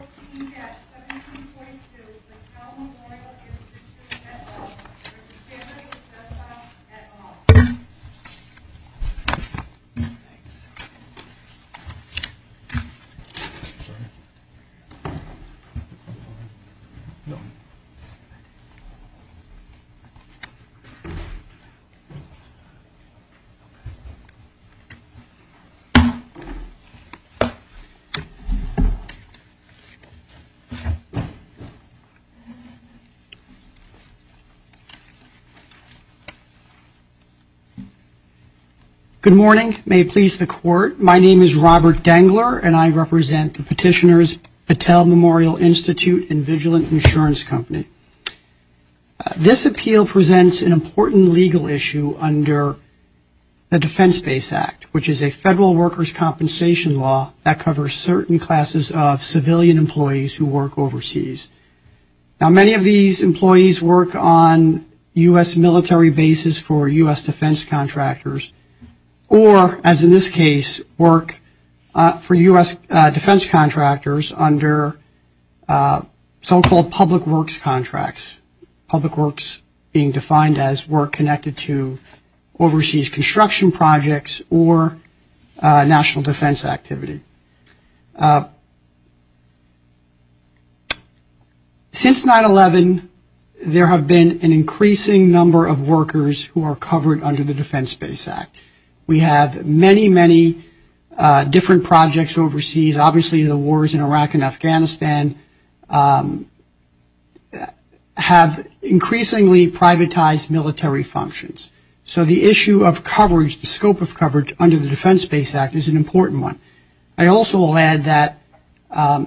14-17.2, the Cal Memorial Institute, et al. v. Dicecca, et al. Good morning. May it please the Court, my name is Robert Dengler and I represent the petitioners Patel Memorial Institute and Vigilant Insurance Company. This appeal presents an important legal issue under the Defense-Based Act, which is a federal workers' compensation law that covers certain classes of civilian employees who work overseas. Now, many of these employees work on U.S. military bases for U.S. defense contractors or, as in this case, work for U.S. defense contractors under so-called public works contracts, public works contracts being defined as work connected to overseas construction projects or national defense activity. Since 9-11, there have been an increasing number of workers who are covered under the Defense-Based Act. We have many, many different projects overseas. Obviously, the wars in Iraq and Syria have significantly privatized military functions. So the issue of coverage, the scope of coverage under the Defense-Based Act is an important one. I also will add that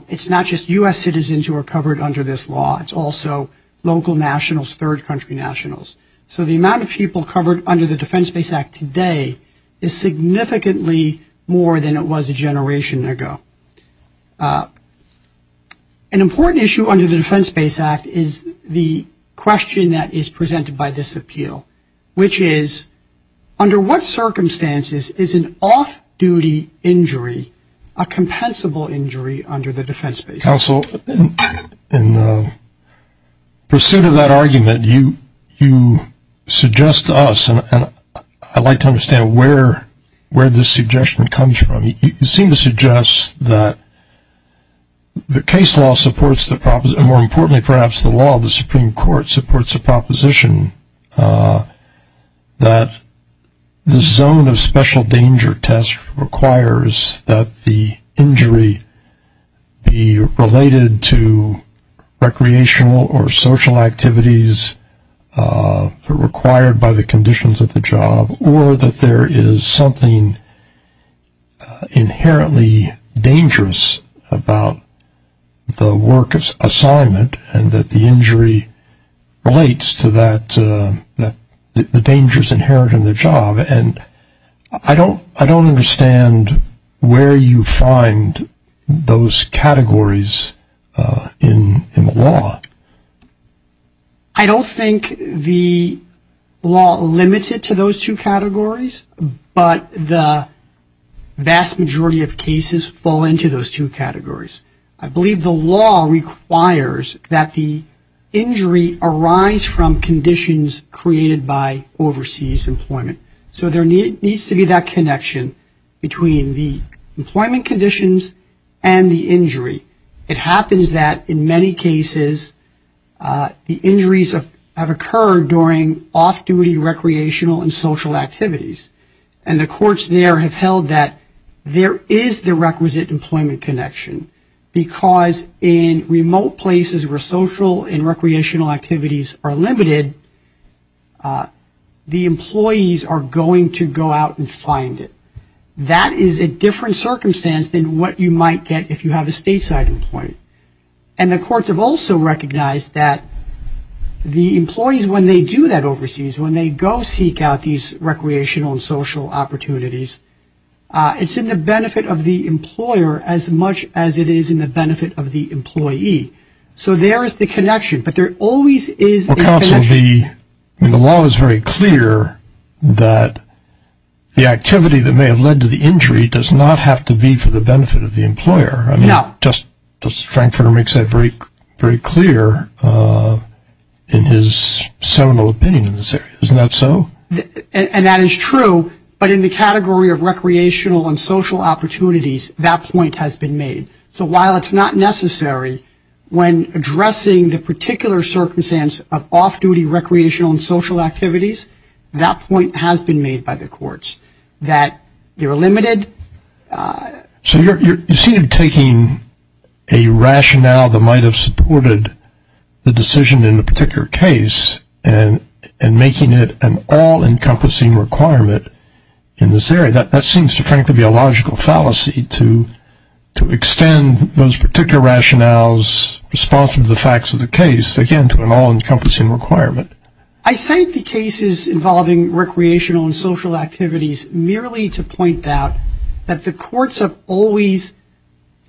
it's not just U.S. citizens who are covered under this law, it's also local nationals, third country nationals. So the amount of people covered under the Defense-Based Act today is significantly more than it was a question that is presented by this appeal, which is, under what circumstances is an off-duty injury a compensable injury under the Defense-Based Act? Counsel, in pursuit of that argument, you suggest to us, and I'd like to understand where this suggestion comes from. You seem to suggest that the case law supports the proposition, and more it supports the proposition, that the zone of special danger test requires that the injury be related to recreational or social activities required by the conditions of the job, or that there is something inherently dangerous about the worker's assignment and that the injury relates to the dangers inherent in the job. And I don't understand where you find those categories in the law. I don't think the law limits it to those two categories, but the vast majority of cases fall into those two categories. I believe the law requires that the injury arise from conditions created by overseas employment. So there needs to be that connection between the employment conditions and the injury. It happens that in many cases the injuries have occurred during off-duty recreational and social activities, and the courts there have held that there is the requisite employment connection, because in remote places where social and recreational activities are limited, the employee is able to go out and find it. That is a different circumstance than what you might get if you have a stateside employee. And the courts have also recognized that the employees, when they do that overseas, when they go seek out these recreational and social opportunities, it's in the benefit of the employer as much as it is in the benefit of the employee. So there is the connection, but there always is a connection. Well, counsel, the law is very clear that the activity that may have led to the injury does not have to be for the benefit of the employer. I mean, just Frankfurter makes that very clear in his seminal opinion in this area. Isn't that so? And that is true, but in the category of recreational and social opportunities, that point has been made. So while it's not necessary when addressing the particular circumstance of off-duty recreational and social activities, that point has been made by the courts, that they're limited. So you seem to be taking a rationale that might have supported the decision in a particular case and making it an all-encompassing requirement in this area. That seems to frankly be a logical fallacy to extend those particular rationales responsive to the facts of the case, again, to an all-encompassing requirement. I cite the cases involving recreational and social activities merely to point out that the courts have always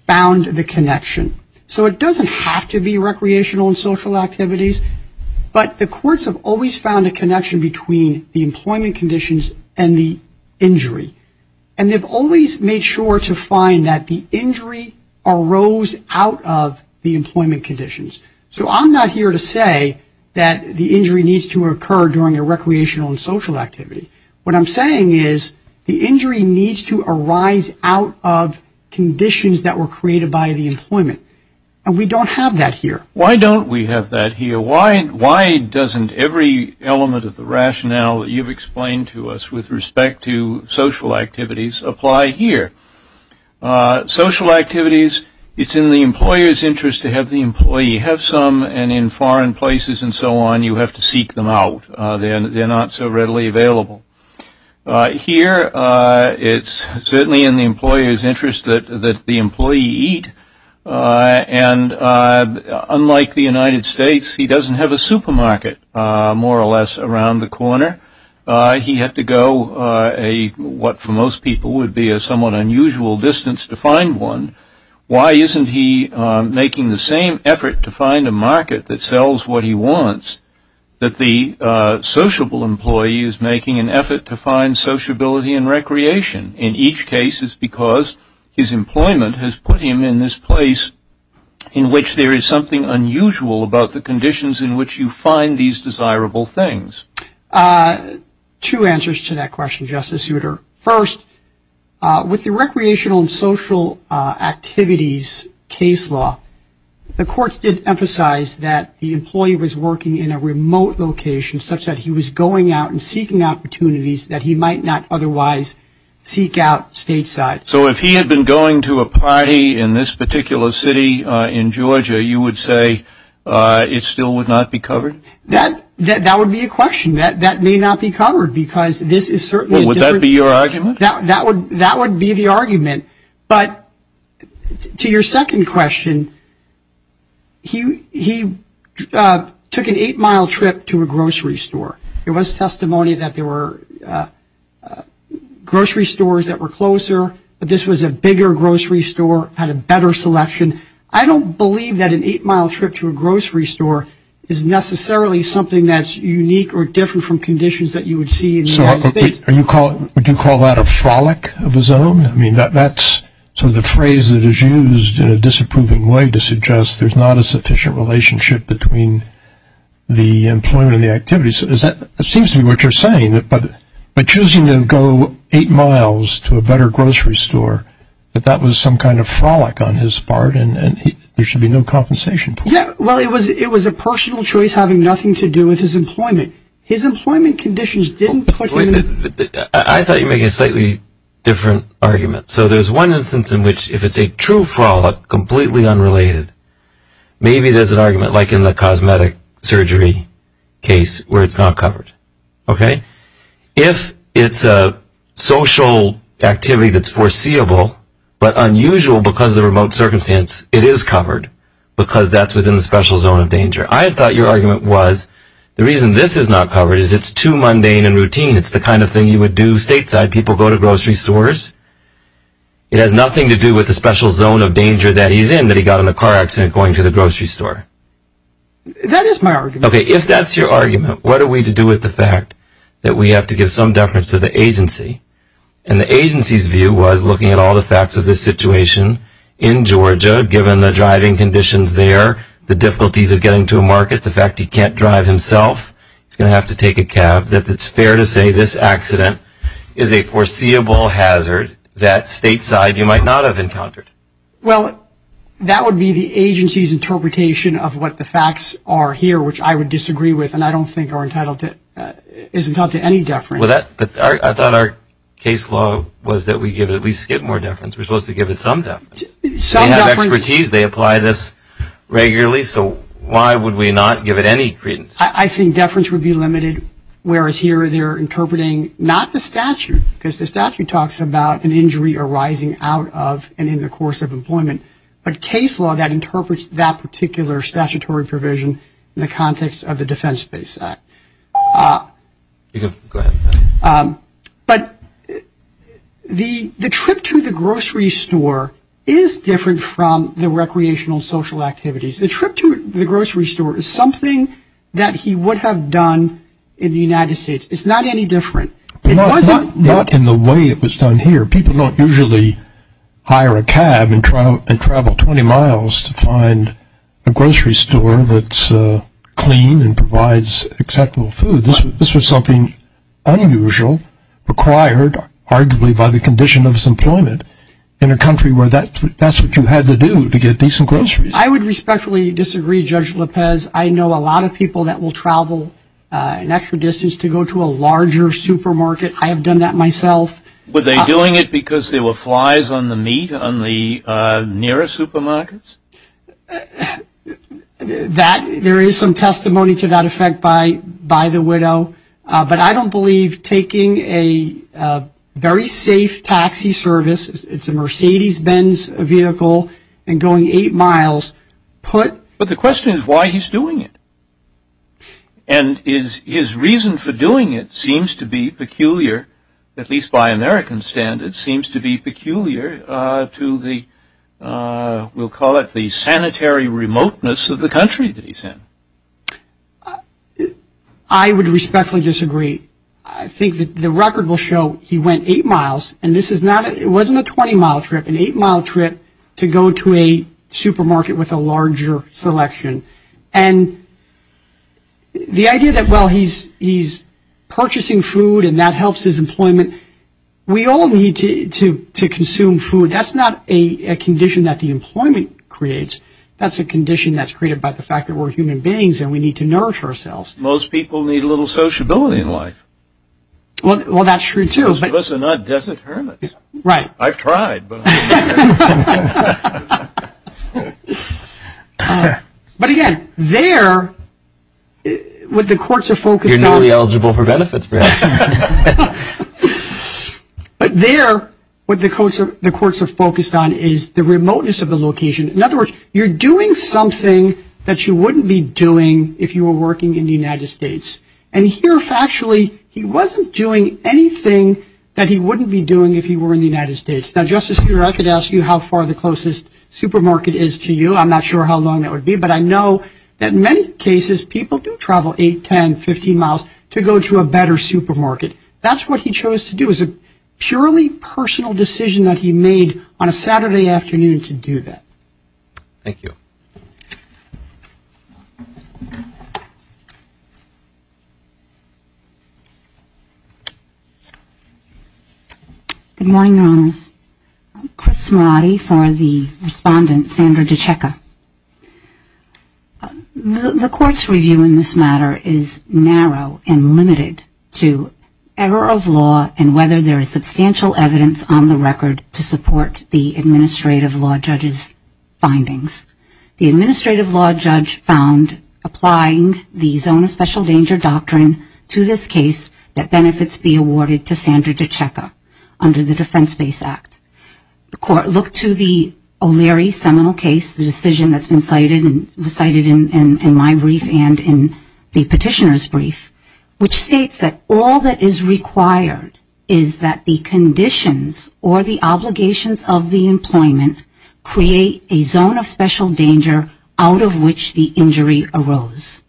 found the connection. So it doesn't have to be recreational and social activities, but the courts have always found a connection between the employment conditions and the injury. And they've always made sure to find that the injury arose out of the employment conditions. So I'm not here to say that the injury needs to occur during a recreational and social activity. What I'm saying is the injury needs to arise out of conditions that were created by the employment. And we don't have that here. Why don't we have that here? Why doesn't every element of the rationale that you've explained to us with respect to social activities apply here? Social activities, it's in the employer's interest to have the employee have some, and in foreign places and so on, you have to seek them out. They're not so readily available. Here, it's certainly in the employer's interest that the employee eat. And unlike the United States, he doesn't have a supermarket, more or less, around the corner. He had to go what for most people would be a somewhat unusual distance to find one. Why isn't he making the same effort to find sociability and recreation? In each case, it's because his employment has put him in this place in which there is something unusual about the conditions in which you find these desirable things. Two answers to that question, Justice Souter. First, with the recreational and social activities case law, the courts did emphasize that the employee had to have some social activities that he might not otherwise seek out stateside. So if he had been going to a party in this particular city in Georgia, you would say it still would not be covered? That would be a question. That may not be covered because this is certainly a different. That would be the argument. But to your second question, he took an eight-mile trip to a grocery store. There was testimony that there were grocery stores that were closer, but this was a bigger grocery store, had a better selection. I don't believe that an eight-mile trip to a grocery store is necessarily something that's unique or different from conditions that you would see in the United States. Would you call that a frolic of his own? I mean, that's sort of the phrase that is used in a disapproving way to suggest there's not a sufficient relationship between the employment and the activities. It seems to be what you're saying, but choosing to go eight miles to a better grocery store, that that was some kind of frolic on his part, and there should be no compensation. Yeah, well, it was a personal choice having nothing to do with his employment. His employment conditions didn't put him in... I thought you were making a slightly different argument. So there's one instance in which if it's a true frolic, completely unrelated, maybe there's an argument like in the cosmetic surgery case where it's not covered. Okay? If it's a social activity that's foreseeable but unusual because of the remote circumstance, it is covered because that's within the special zone of danger. I thought your argument was the reason this is not covered is it's too mundane and routine. It's the kind of thing you would do stateside. People go to grocery stores. It has nothing to do with the special zone of danger that he's in that he got in a car accident going to the grocery store. That is my argument. Okay, if that's your argument, what are we to do with the fact that we have to give some deference to the agency? And the agency's view was looking at all the facts of this situation in Georgia, given the driving conditions there, the difficulties of getting to a market, the fact he can't drive himself, he's going to have to take a cab, that it's fair to say this accident is a foreseeable hazard that stateside you might not have encountered. Well, that would be the agency's interpretation of what the facts are here, which I would disagree with, and I don't think are entitled to any deference. But I thought our case law was that we give at least a bit more deference. We're supposed to give it some deference. Some deference. Deferenties, they apply this regularly, so why would we not give it any credence? I think deference would be limited, whereas here they're interpreting not the statute, because the statute talks about an injury arising out of and in the course of employment, but case law that interprets that particular statutory provision in the context of the Defense Space Act. Go ahead. But the trip to the grocery store is different from the recreational social activities. The trip to the grocery store is something that he would have done in the United States. It's not any different. Not in the way it was done here. People don't usually hire a cab and travel 20 miles to find a grocery store that's clean and provides acceptable food. This was something unusual, required arguably by the condition of his employment, in a country where that's what you had to do to get decent groceries. I would respectfully disagree, Judge Lopez. I know a lot of people that will travel an extra distance to go to a larger supermarket. I have done that myself. Were they doing it because there were flies on the meat on the nearest supermarkets? That, there is some testimony to that effect by the widow. But I don't believe taking a very safe taxi service, it's a Mercedes Benz vehicle, and going eight miles put. But the question is why he's doing it. And his reason for doing it seems to be peculiar, at least by American standards, seems to be peculiar to the, we'll call it the sanitary remoteness of the country that he's in. I would respectfully disagree. I think that the record will show he went eight miles, and this is not, it wasn't a 20-mile trip, an eight-mile trip to go to a supermarket with a larger selection. And the idea that, well, he's purchasing food, and that helps his employment. We all need to consume food. That's not a condition that the employment creates. That's a condition that's created by the fact that we're human beings and we need to nourish ourselves. Most people need a little sociability in life. Well, that's true, too. Most of us are not desert hermits. Right. I've tried. But, again, there, what the courts are focused on. You're newly eligible for benefits. But there, what the courts are focused on is the remoteness of the location. In other words, you're doing something that you wouldn't be doing if you were working in the United States. And here, factually, he wasn't doing anything that he wouldn't be doing if he were in the United States. Now, Justice Breyer, I could ask you how far the closest supermarket is to you. I'm not sure how long that would be. But I know that, in many cases, people do travel 8, 10, 15 miles to go to a better supermarket. That's what he chose to do. It was a purely personal decision that he made on a Saturday afternoon to do that. Thank you. Good morning, Your Honors. I'm Chris Mirati for the respondent, Sandra DiCecca. The court's review in this matter is narrow and limited to error of law and whether there is substantial evidence on the record to support the administrative law judge's findings. The administrative law judge found applying the zone of special danger doctrine to this case, that benefits be awarded to Sandra DiCecca under the Defense Base Act. The court looked to the O'Leary seminal case, the decision that's been cited in my brief and in the petitioner's brief, which states that all that is required is that the conditions or the obligations of the employment create a zone of special danger out of which the injury arose.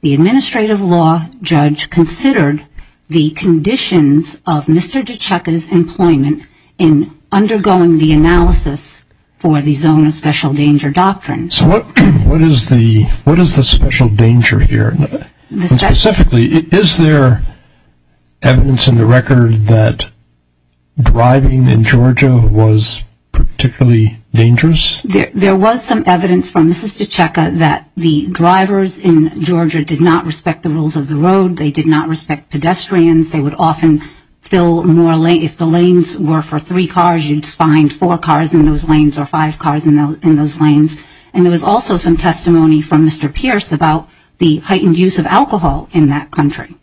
The administrative law judge considered the conditions of Mr. DiCecca's employment in undergoing the analysis for the zone of special danger doctrine. So what is the special danger here? Specifically, is there evidence in the record that driving in Georgia was particularly dangerous? There was some evidence from Mrs. DiCecca that the drivers in Georgia did not respect the rules of the road. They did not respect pedestrians. They would often fill more lanes. If the lanes were for three cars, you'd find four cars in those lanes or five cars in those lanes. And there was also some testimony from Mr. Pierce about the heightened use of alcohol in that country.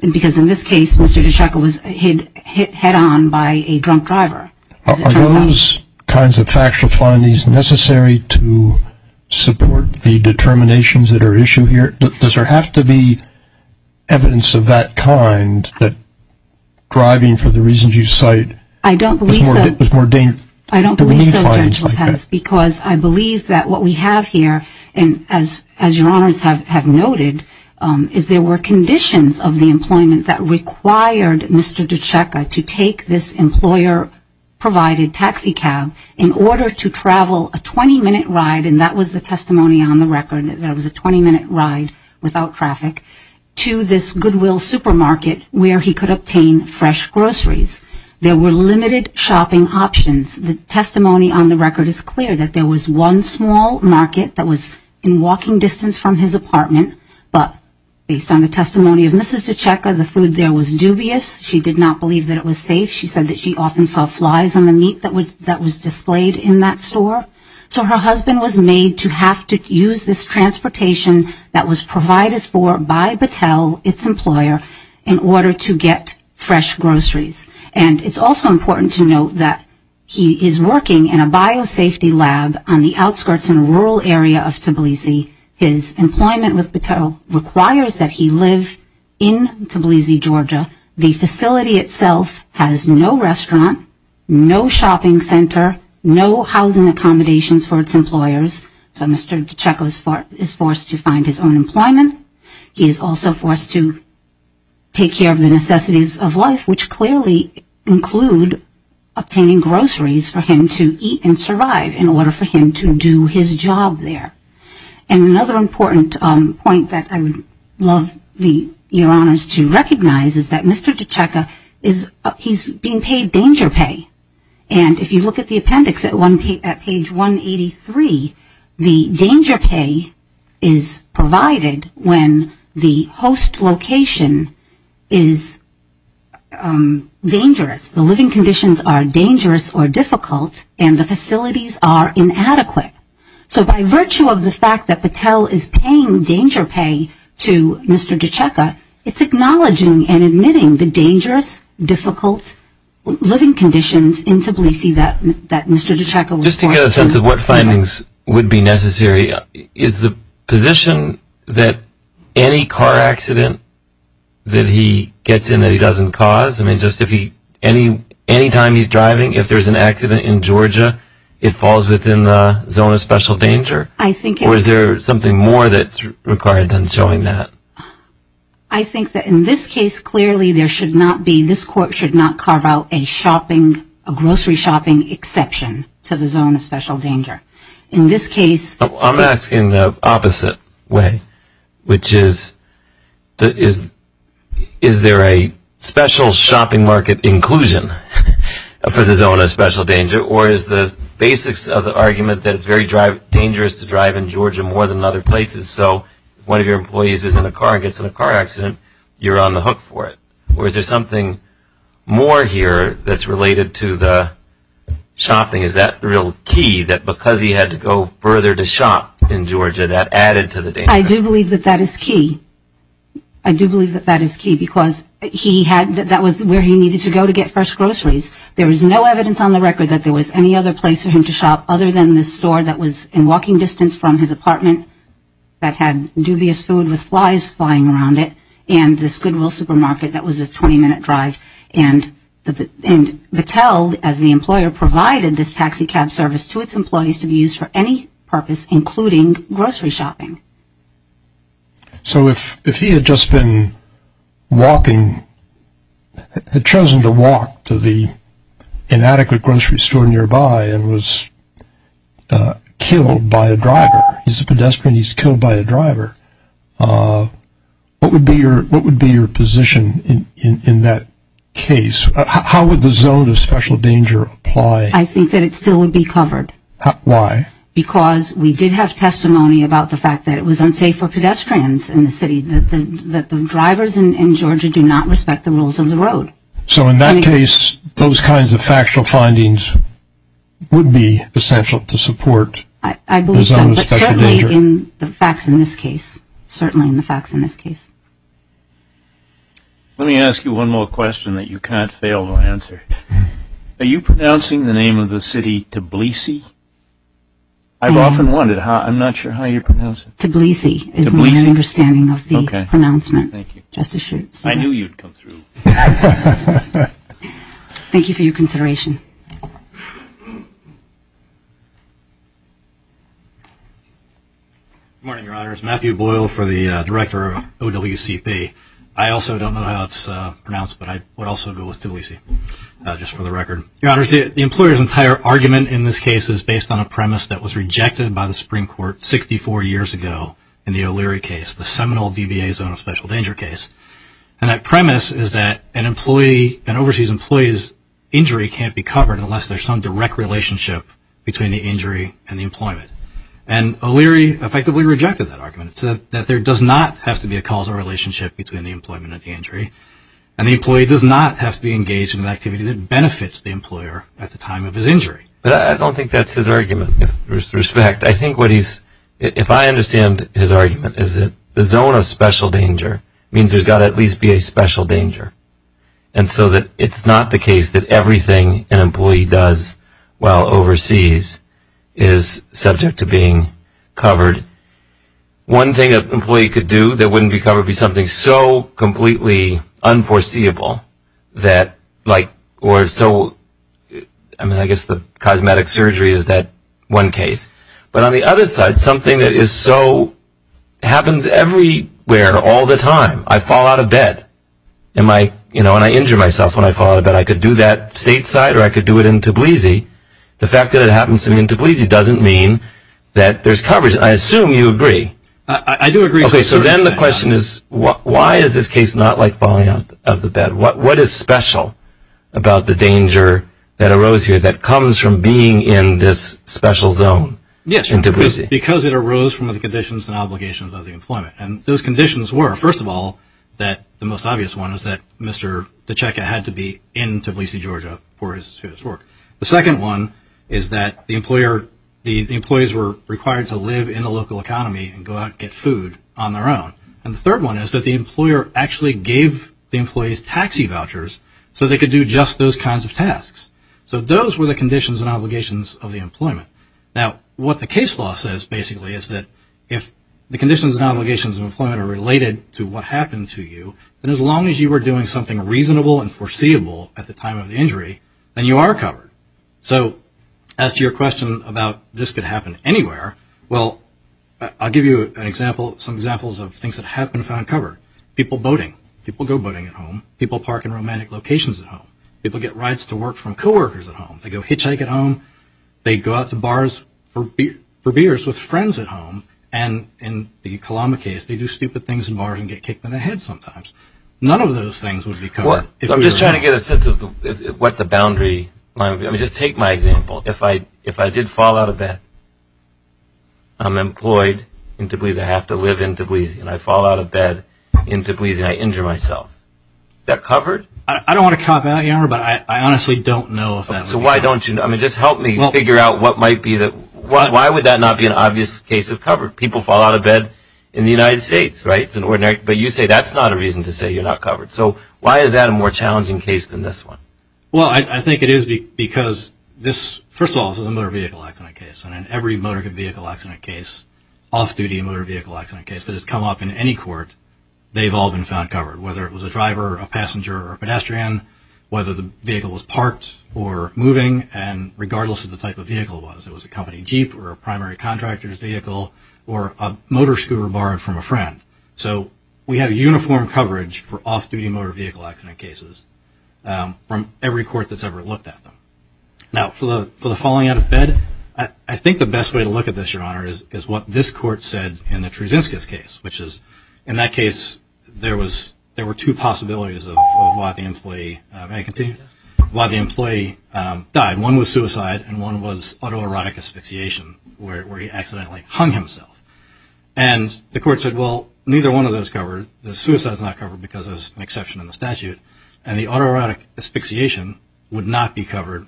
Because in this case, Mr. DiCecca was hit head-on by a drunk driver. Are those kinds of factual findings necessary to support the determinations that are issued here? Does there have to be evidence of that kind, that driving for the reasons you cite is more dangerous? I don't believe so, General Lopez, because I believe that what we have here, and as your honors have noted, is there were conditions of the employment that required Mr. DiCecca to take this employer-provided taxi cab in order to travel a 20-minute ride, and that was the testimony on the record, that it was a 20-minute ride without traffic, to this Goodwill supermarket where he could obtain fresh groceries. There were limited shopping options. The testimony on the record is clear, that there was one small market that was in walking distance from his apartment, but based on the testimony of Mrs. DiCecca, the food there was dubious. She did not believe that it was safe. She said that she often saw flies on the meat that was displayed in that store. So her husband was made to have to use this transportation that was provided for by Battelle, its employer, in order to get fresh groceries. And it's also important to note that he is working in a biosafety lab on the outskirts in a rural area of Tbilisi. His employment with Battelle requires that he live in Tbilisi, Georgia. The facility itself has no restaurant, no shopping center, no housing accommodations for its employers, so Mr. DiCecca is forced to find his own employment. He is also forced to take care of the necessities of life, which clearly include obtaining groceries for him to eat and survive in order for him to do his job there. And another important point that I would love your honors to recognize is that Mr. DiCecca is being paid danger pay. And if you look at the appendix at page 183, the danger pay is provided when the host location is dangerous. The living conditions are dangerous or difficult and the facilities are inadequate. So by virtue of the fact that Battelle is paying danger pay to Mr. DiCecca, it's acknowledging and admitting the dangerous, difficult living conditions in Tbilisi that Mr. DiCecca was forced to. Just to get a sense of what findings would be necessary, is the position that any car accident that he gets in that he doesn't cause? I mean, just if he, anytime he's driving, if there's an accident in Georgia, it falls within the zone of special danger? Or is there something more that's required than showing that? I think that in this case, clearly there should not be, this court should not carve out a shopping, a grocery shopping exception to the zone of special danger. In this case... I'm asking the opposite way, which is, is there a special shopping market inclusion for the zone of special danger? Or is the basics of the argument that it's very dangerous to drive in Georgia more than other places? So if one of your employees is in a car and gets in a car accident, you're on the hook for it. Or is there something more here that's related to the shopping? Is that real key, that because he had to go further to shop in Georgia, that added to the danger? I do believe that that is key. I do believe that that is key because he had, that was where he needed to go to get fresh groceries. There is no evidence on the record that there was any other place for him to shop other than this store that was in walking distance from his apartment that had dubious food with flies flying around it, and this Goodwill supermarket that was his 20-minute drive. And Battelle, as the employer, provided this taxi cab service to its employees to be used for any purpose, including grocery shopping. So if he had just been walking, had chosen to walk to the inadequate grocery store nearby and was killed by a driver, he's a pedestrian, he's killed by a driver, what would be your position in that case? How would the zone of special danger apply? I think that it still would be covered. Why? Because we did have testimony about the fact that it was unsafe for pedestrians in the city, that the drivers in Georgia do not respect the rules of the road. So in that case, those kinds of factual findings would be essential to support the zone of special danger? I believe so, but certainly in the facts in this case, certainly in the facts in this case. Let me ask you one more question that you can't fail to answer. Are you pronouncing the name of the city Tbilisi? I've often wondered. I'm not sure how you pronounce it. Tbilisi is my understanding of the pronouncement. I knew you'd come through. Thank you for your consideration. Good morning, Your Honors. Matthew Boyle for the Director of OWCP. I also don't know how it's pronounced, but I would also go with Tbilisi, just for the record. Your Honors, the employer's entire argument in this case is based on a premise that was rejected by the Supreme Court 64 years ago in the O'Leary case, the seminal DBA zone of special danger case. And that premise is that an employee, an overseas employee's injury can't be covered unless there's some direct relationship between the injury and the employment. And O'Leary effectively rejected that argument. So that there does not have to be a causal relationship between the employment and the injury. And the employee does not have to be engaged in an activity that benefits the employer at the time of his injury. But I don't think that's his argument. With respect, I think what he's, if I understand his argument, is that the zone of special danger means there's got to at least be a special danger. And so that it's not the case that everything an employee does while overseas is subject to being covered. One thing an employee could do that wouldn't be covered would be something so completely unforeseeable that like, or so, I mean, I guess the cosmetic surgery is that one case. But on the other side, something that is so, happens everywhere all the time. I fall out of bed and my, you know, and I injure myself when I fall out of bed. I could do that stateside or I could do it in Tbilisi. The fact that it happens to me in Tbilisi doesn't mean that there's coverage. I assume you agree. I do agree. Okay. So then the question is, why is this case not like falling out of the bed? What is special about the danger that arose here that comes from being in this special zone in Tbilisi? Yes. Because it arose from the conditions and obligations of the employment. And those conditions were, first of all, that the most obvious one is that Mr. The second one is that the employer, the employees were required to live in a local economy and go out and get food on their own. And the third one is that the employer actually gave the employees taxi vouchers so they could do just those kinds of tasks. So those were the conditions and obligations of the employment. Now, what the case law says, basically, is that if the conditions and obligations of employment are related to what happened to you, then as long as you were doing something reasonable and foreseeable at the time of the injury, then you are covered. So as to your question about this could happen anywhere, well, I'll give you some examples of things that have been found covered. People boating. People go boating at home. People park in romantic locations at home. People get rights to work from coworkers at home. They go hitchhike at home. They go out to bars for beers with friends at home. And in the Kalama case, they do stupid things in bars and get kicked in the head sometimes. None of those things would be covered. I'm just trying to get a sense of what the boundary might be. I mean, just take my example. If I did fall out of bed, I'm employed in Tbilisi, I have to live in Tbilisi, and I fall out of bed in Tbilisi and I injure myself. Is that covered? I don't want to cop out, but I honestly don't know. So why don't you? I mean, just help me figure out what might be the – why would that not be an obvious case of covered? People fall out of bed in the United States, right? But you say that's not a reason to say you're not covered. So why is that a more challenging case than this one? Well, I think it is because this, first of all, is a motor vehicle accident case, and in every motor vehicle accident case, off-duty motor vehicle accident case, that has come up in any court, they've all been found covered, whether it was a driver, a passenger, or a pedestrian, whether the vehicle was parked or moving, and regardless of the type of vehicle it was. It was a company Jeep or a primary contractor's vehicle or a motor scooter borrowed from a friend. So we have uniform coverage for off-duty motor vehicle accident cases from every court that's ever looked at them. Now, for the falling out of bed, I think the best way to look at this, Your Honor, is what this court said in the Trusinskis case, which is, in that case, there were two possibilities of why the employee died. One was suicide and one was autoerotic asphyxiation, where he accidentally hung himself. And the court said, well, neither one of those covered. The suicide's not covered because there's an exception in the statute, and the autoerotic asphyxiation would not be covered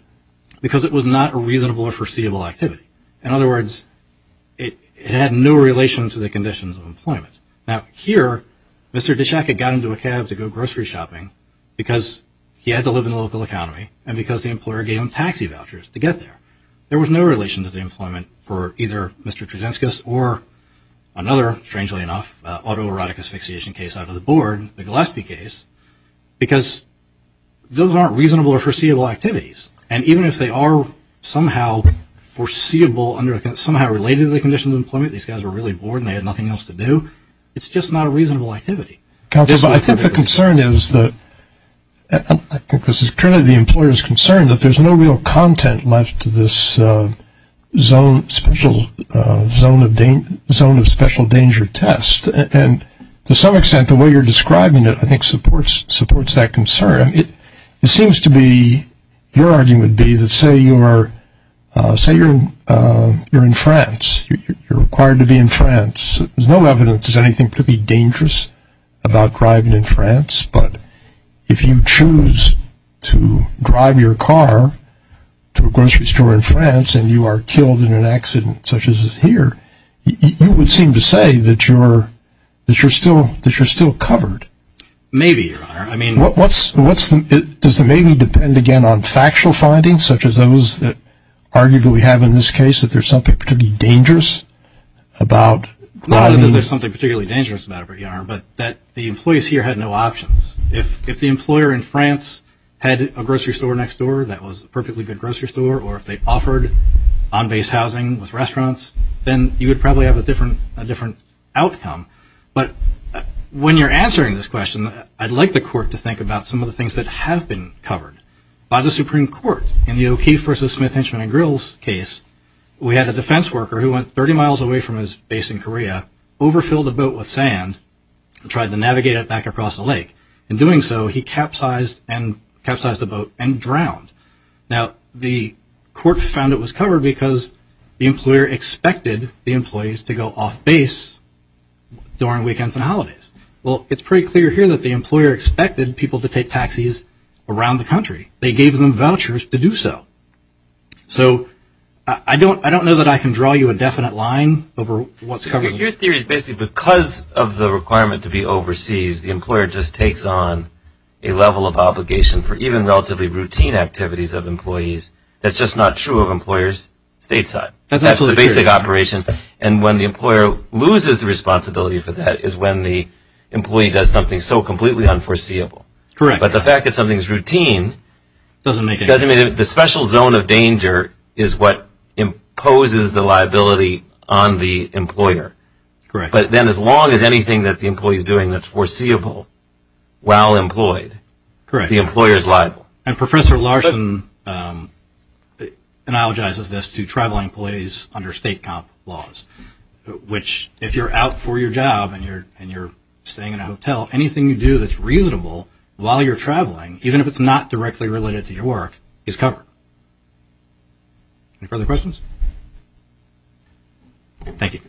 because it was not a reasonable or foreseeable activity. In other words, it had no relation to the conditions of employment. Now, here, Mr. Dischak had gotten into a cab to go grocery shopping because he had to live in the local economy and because the employer gave him taxi vouchers to get there. There was no relation to the employment for either Mr. Trusinskis or another, strangely enough, autoerotic asphyxiation case out of the board, the Gillespie case, because those aren't reasonable or foreseeable activities. And even if they are somehow foreseeable, somehow related to the conditions of employment, these guys were really bored and they had nothing else to do, it's just not a reasonable activity. Counselor, but I think the concern is that, and I think this is clearly the employer's concern, that there's no real content left to this zone of special danger test. And to some extent, the way you're describing it, I think, supports that concern. It seems to be, your argument would be that say you're in France, you're required to be in France, there's no evidence that there's anything particularly dangerous about driving in France, but if you choose to drive your car to a grocery store in France and you are killed in an accident such as is here, you would seem to say that you're still covered. Maybe, Your Honor. Does the maybe depend, again, on factual findings, such as those that arguably we have in this case, that there's something particularly dangerous about driving? Not that there's something particularly dangerous about it, Your Honor, but that the employees here had no options. If the employer in France had a grocery store next door that was a perfectly good grocery store, or if they offered on-base housing with restaurants, then you would probably have a different outcome. But when you're answering this question, I'd like the Court to think about some of the things that have been covered. By the Supreme Court, in the O'Keefe versus Smith-Hinchman and Grills case, we had a defense worker who went 30 miles away from his base in Korea, overfilled a boat with sand and tried to navigate it back across the lake. In doing so, he capsized the boat and drowned. Now, the Court found it was covered because the employer expected the employees to go off-base during weekends and holidays. Well, it's pretty clear here that the employer expected people to take taxis around the country. They gave them vouchers to do so. So I don't know that I can draw you a definite line over what's covered. Your theory is basically because of the requirement to be overseas, the employer just takes on a level of obligation for even relatively routine activities of employees. That's just not true of employers stateside. That's the basic operation. And when the employer loses the responsibility for that is when the employee does something so completely unforeseeable. Correct. But the fact that something is routine doesn't make any sense. I mean, the special zone of danger is what imposes the liability on the employer. Correct. But then as long as anything that the employee is doing that's foreseeable while employed, the employer is liable. And Professor Larson analogizes this to traveling employees under state comp laws, which if you're out for your job and you're staying in a hotel, anything you do that's reasonable while you're traveling, even if it's not directly related to your work, is covered. Any further questions? Thank you.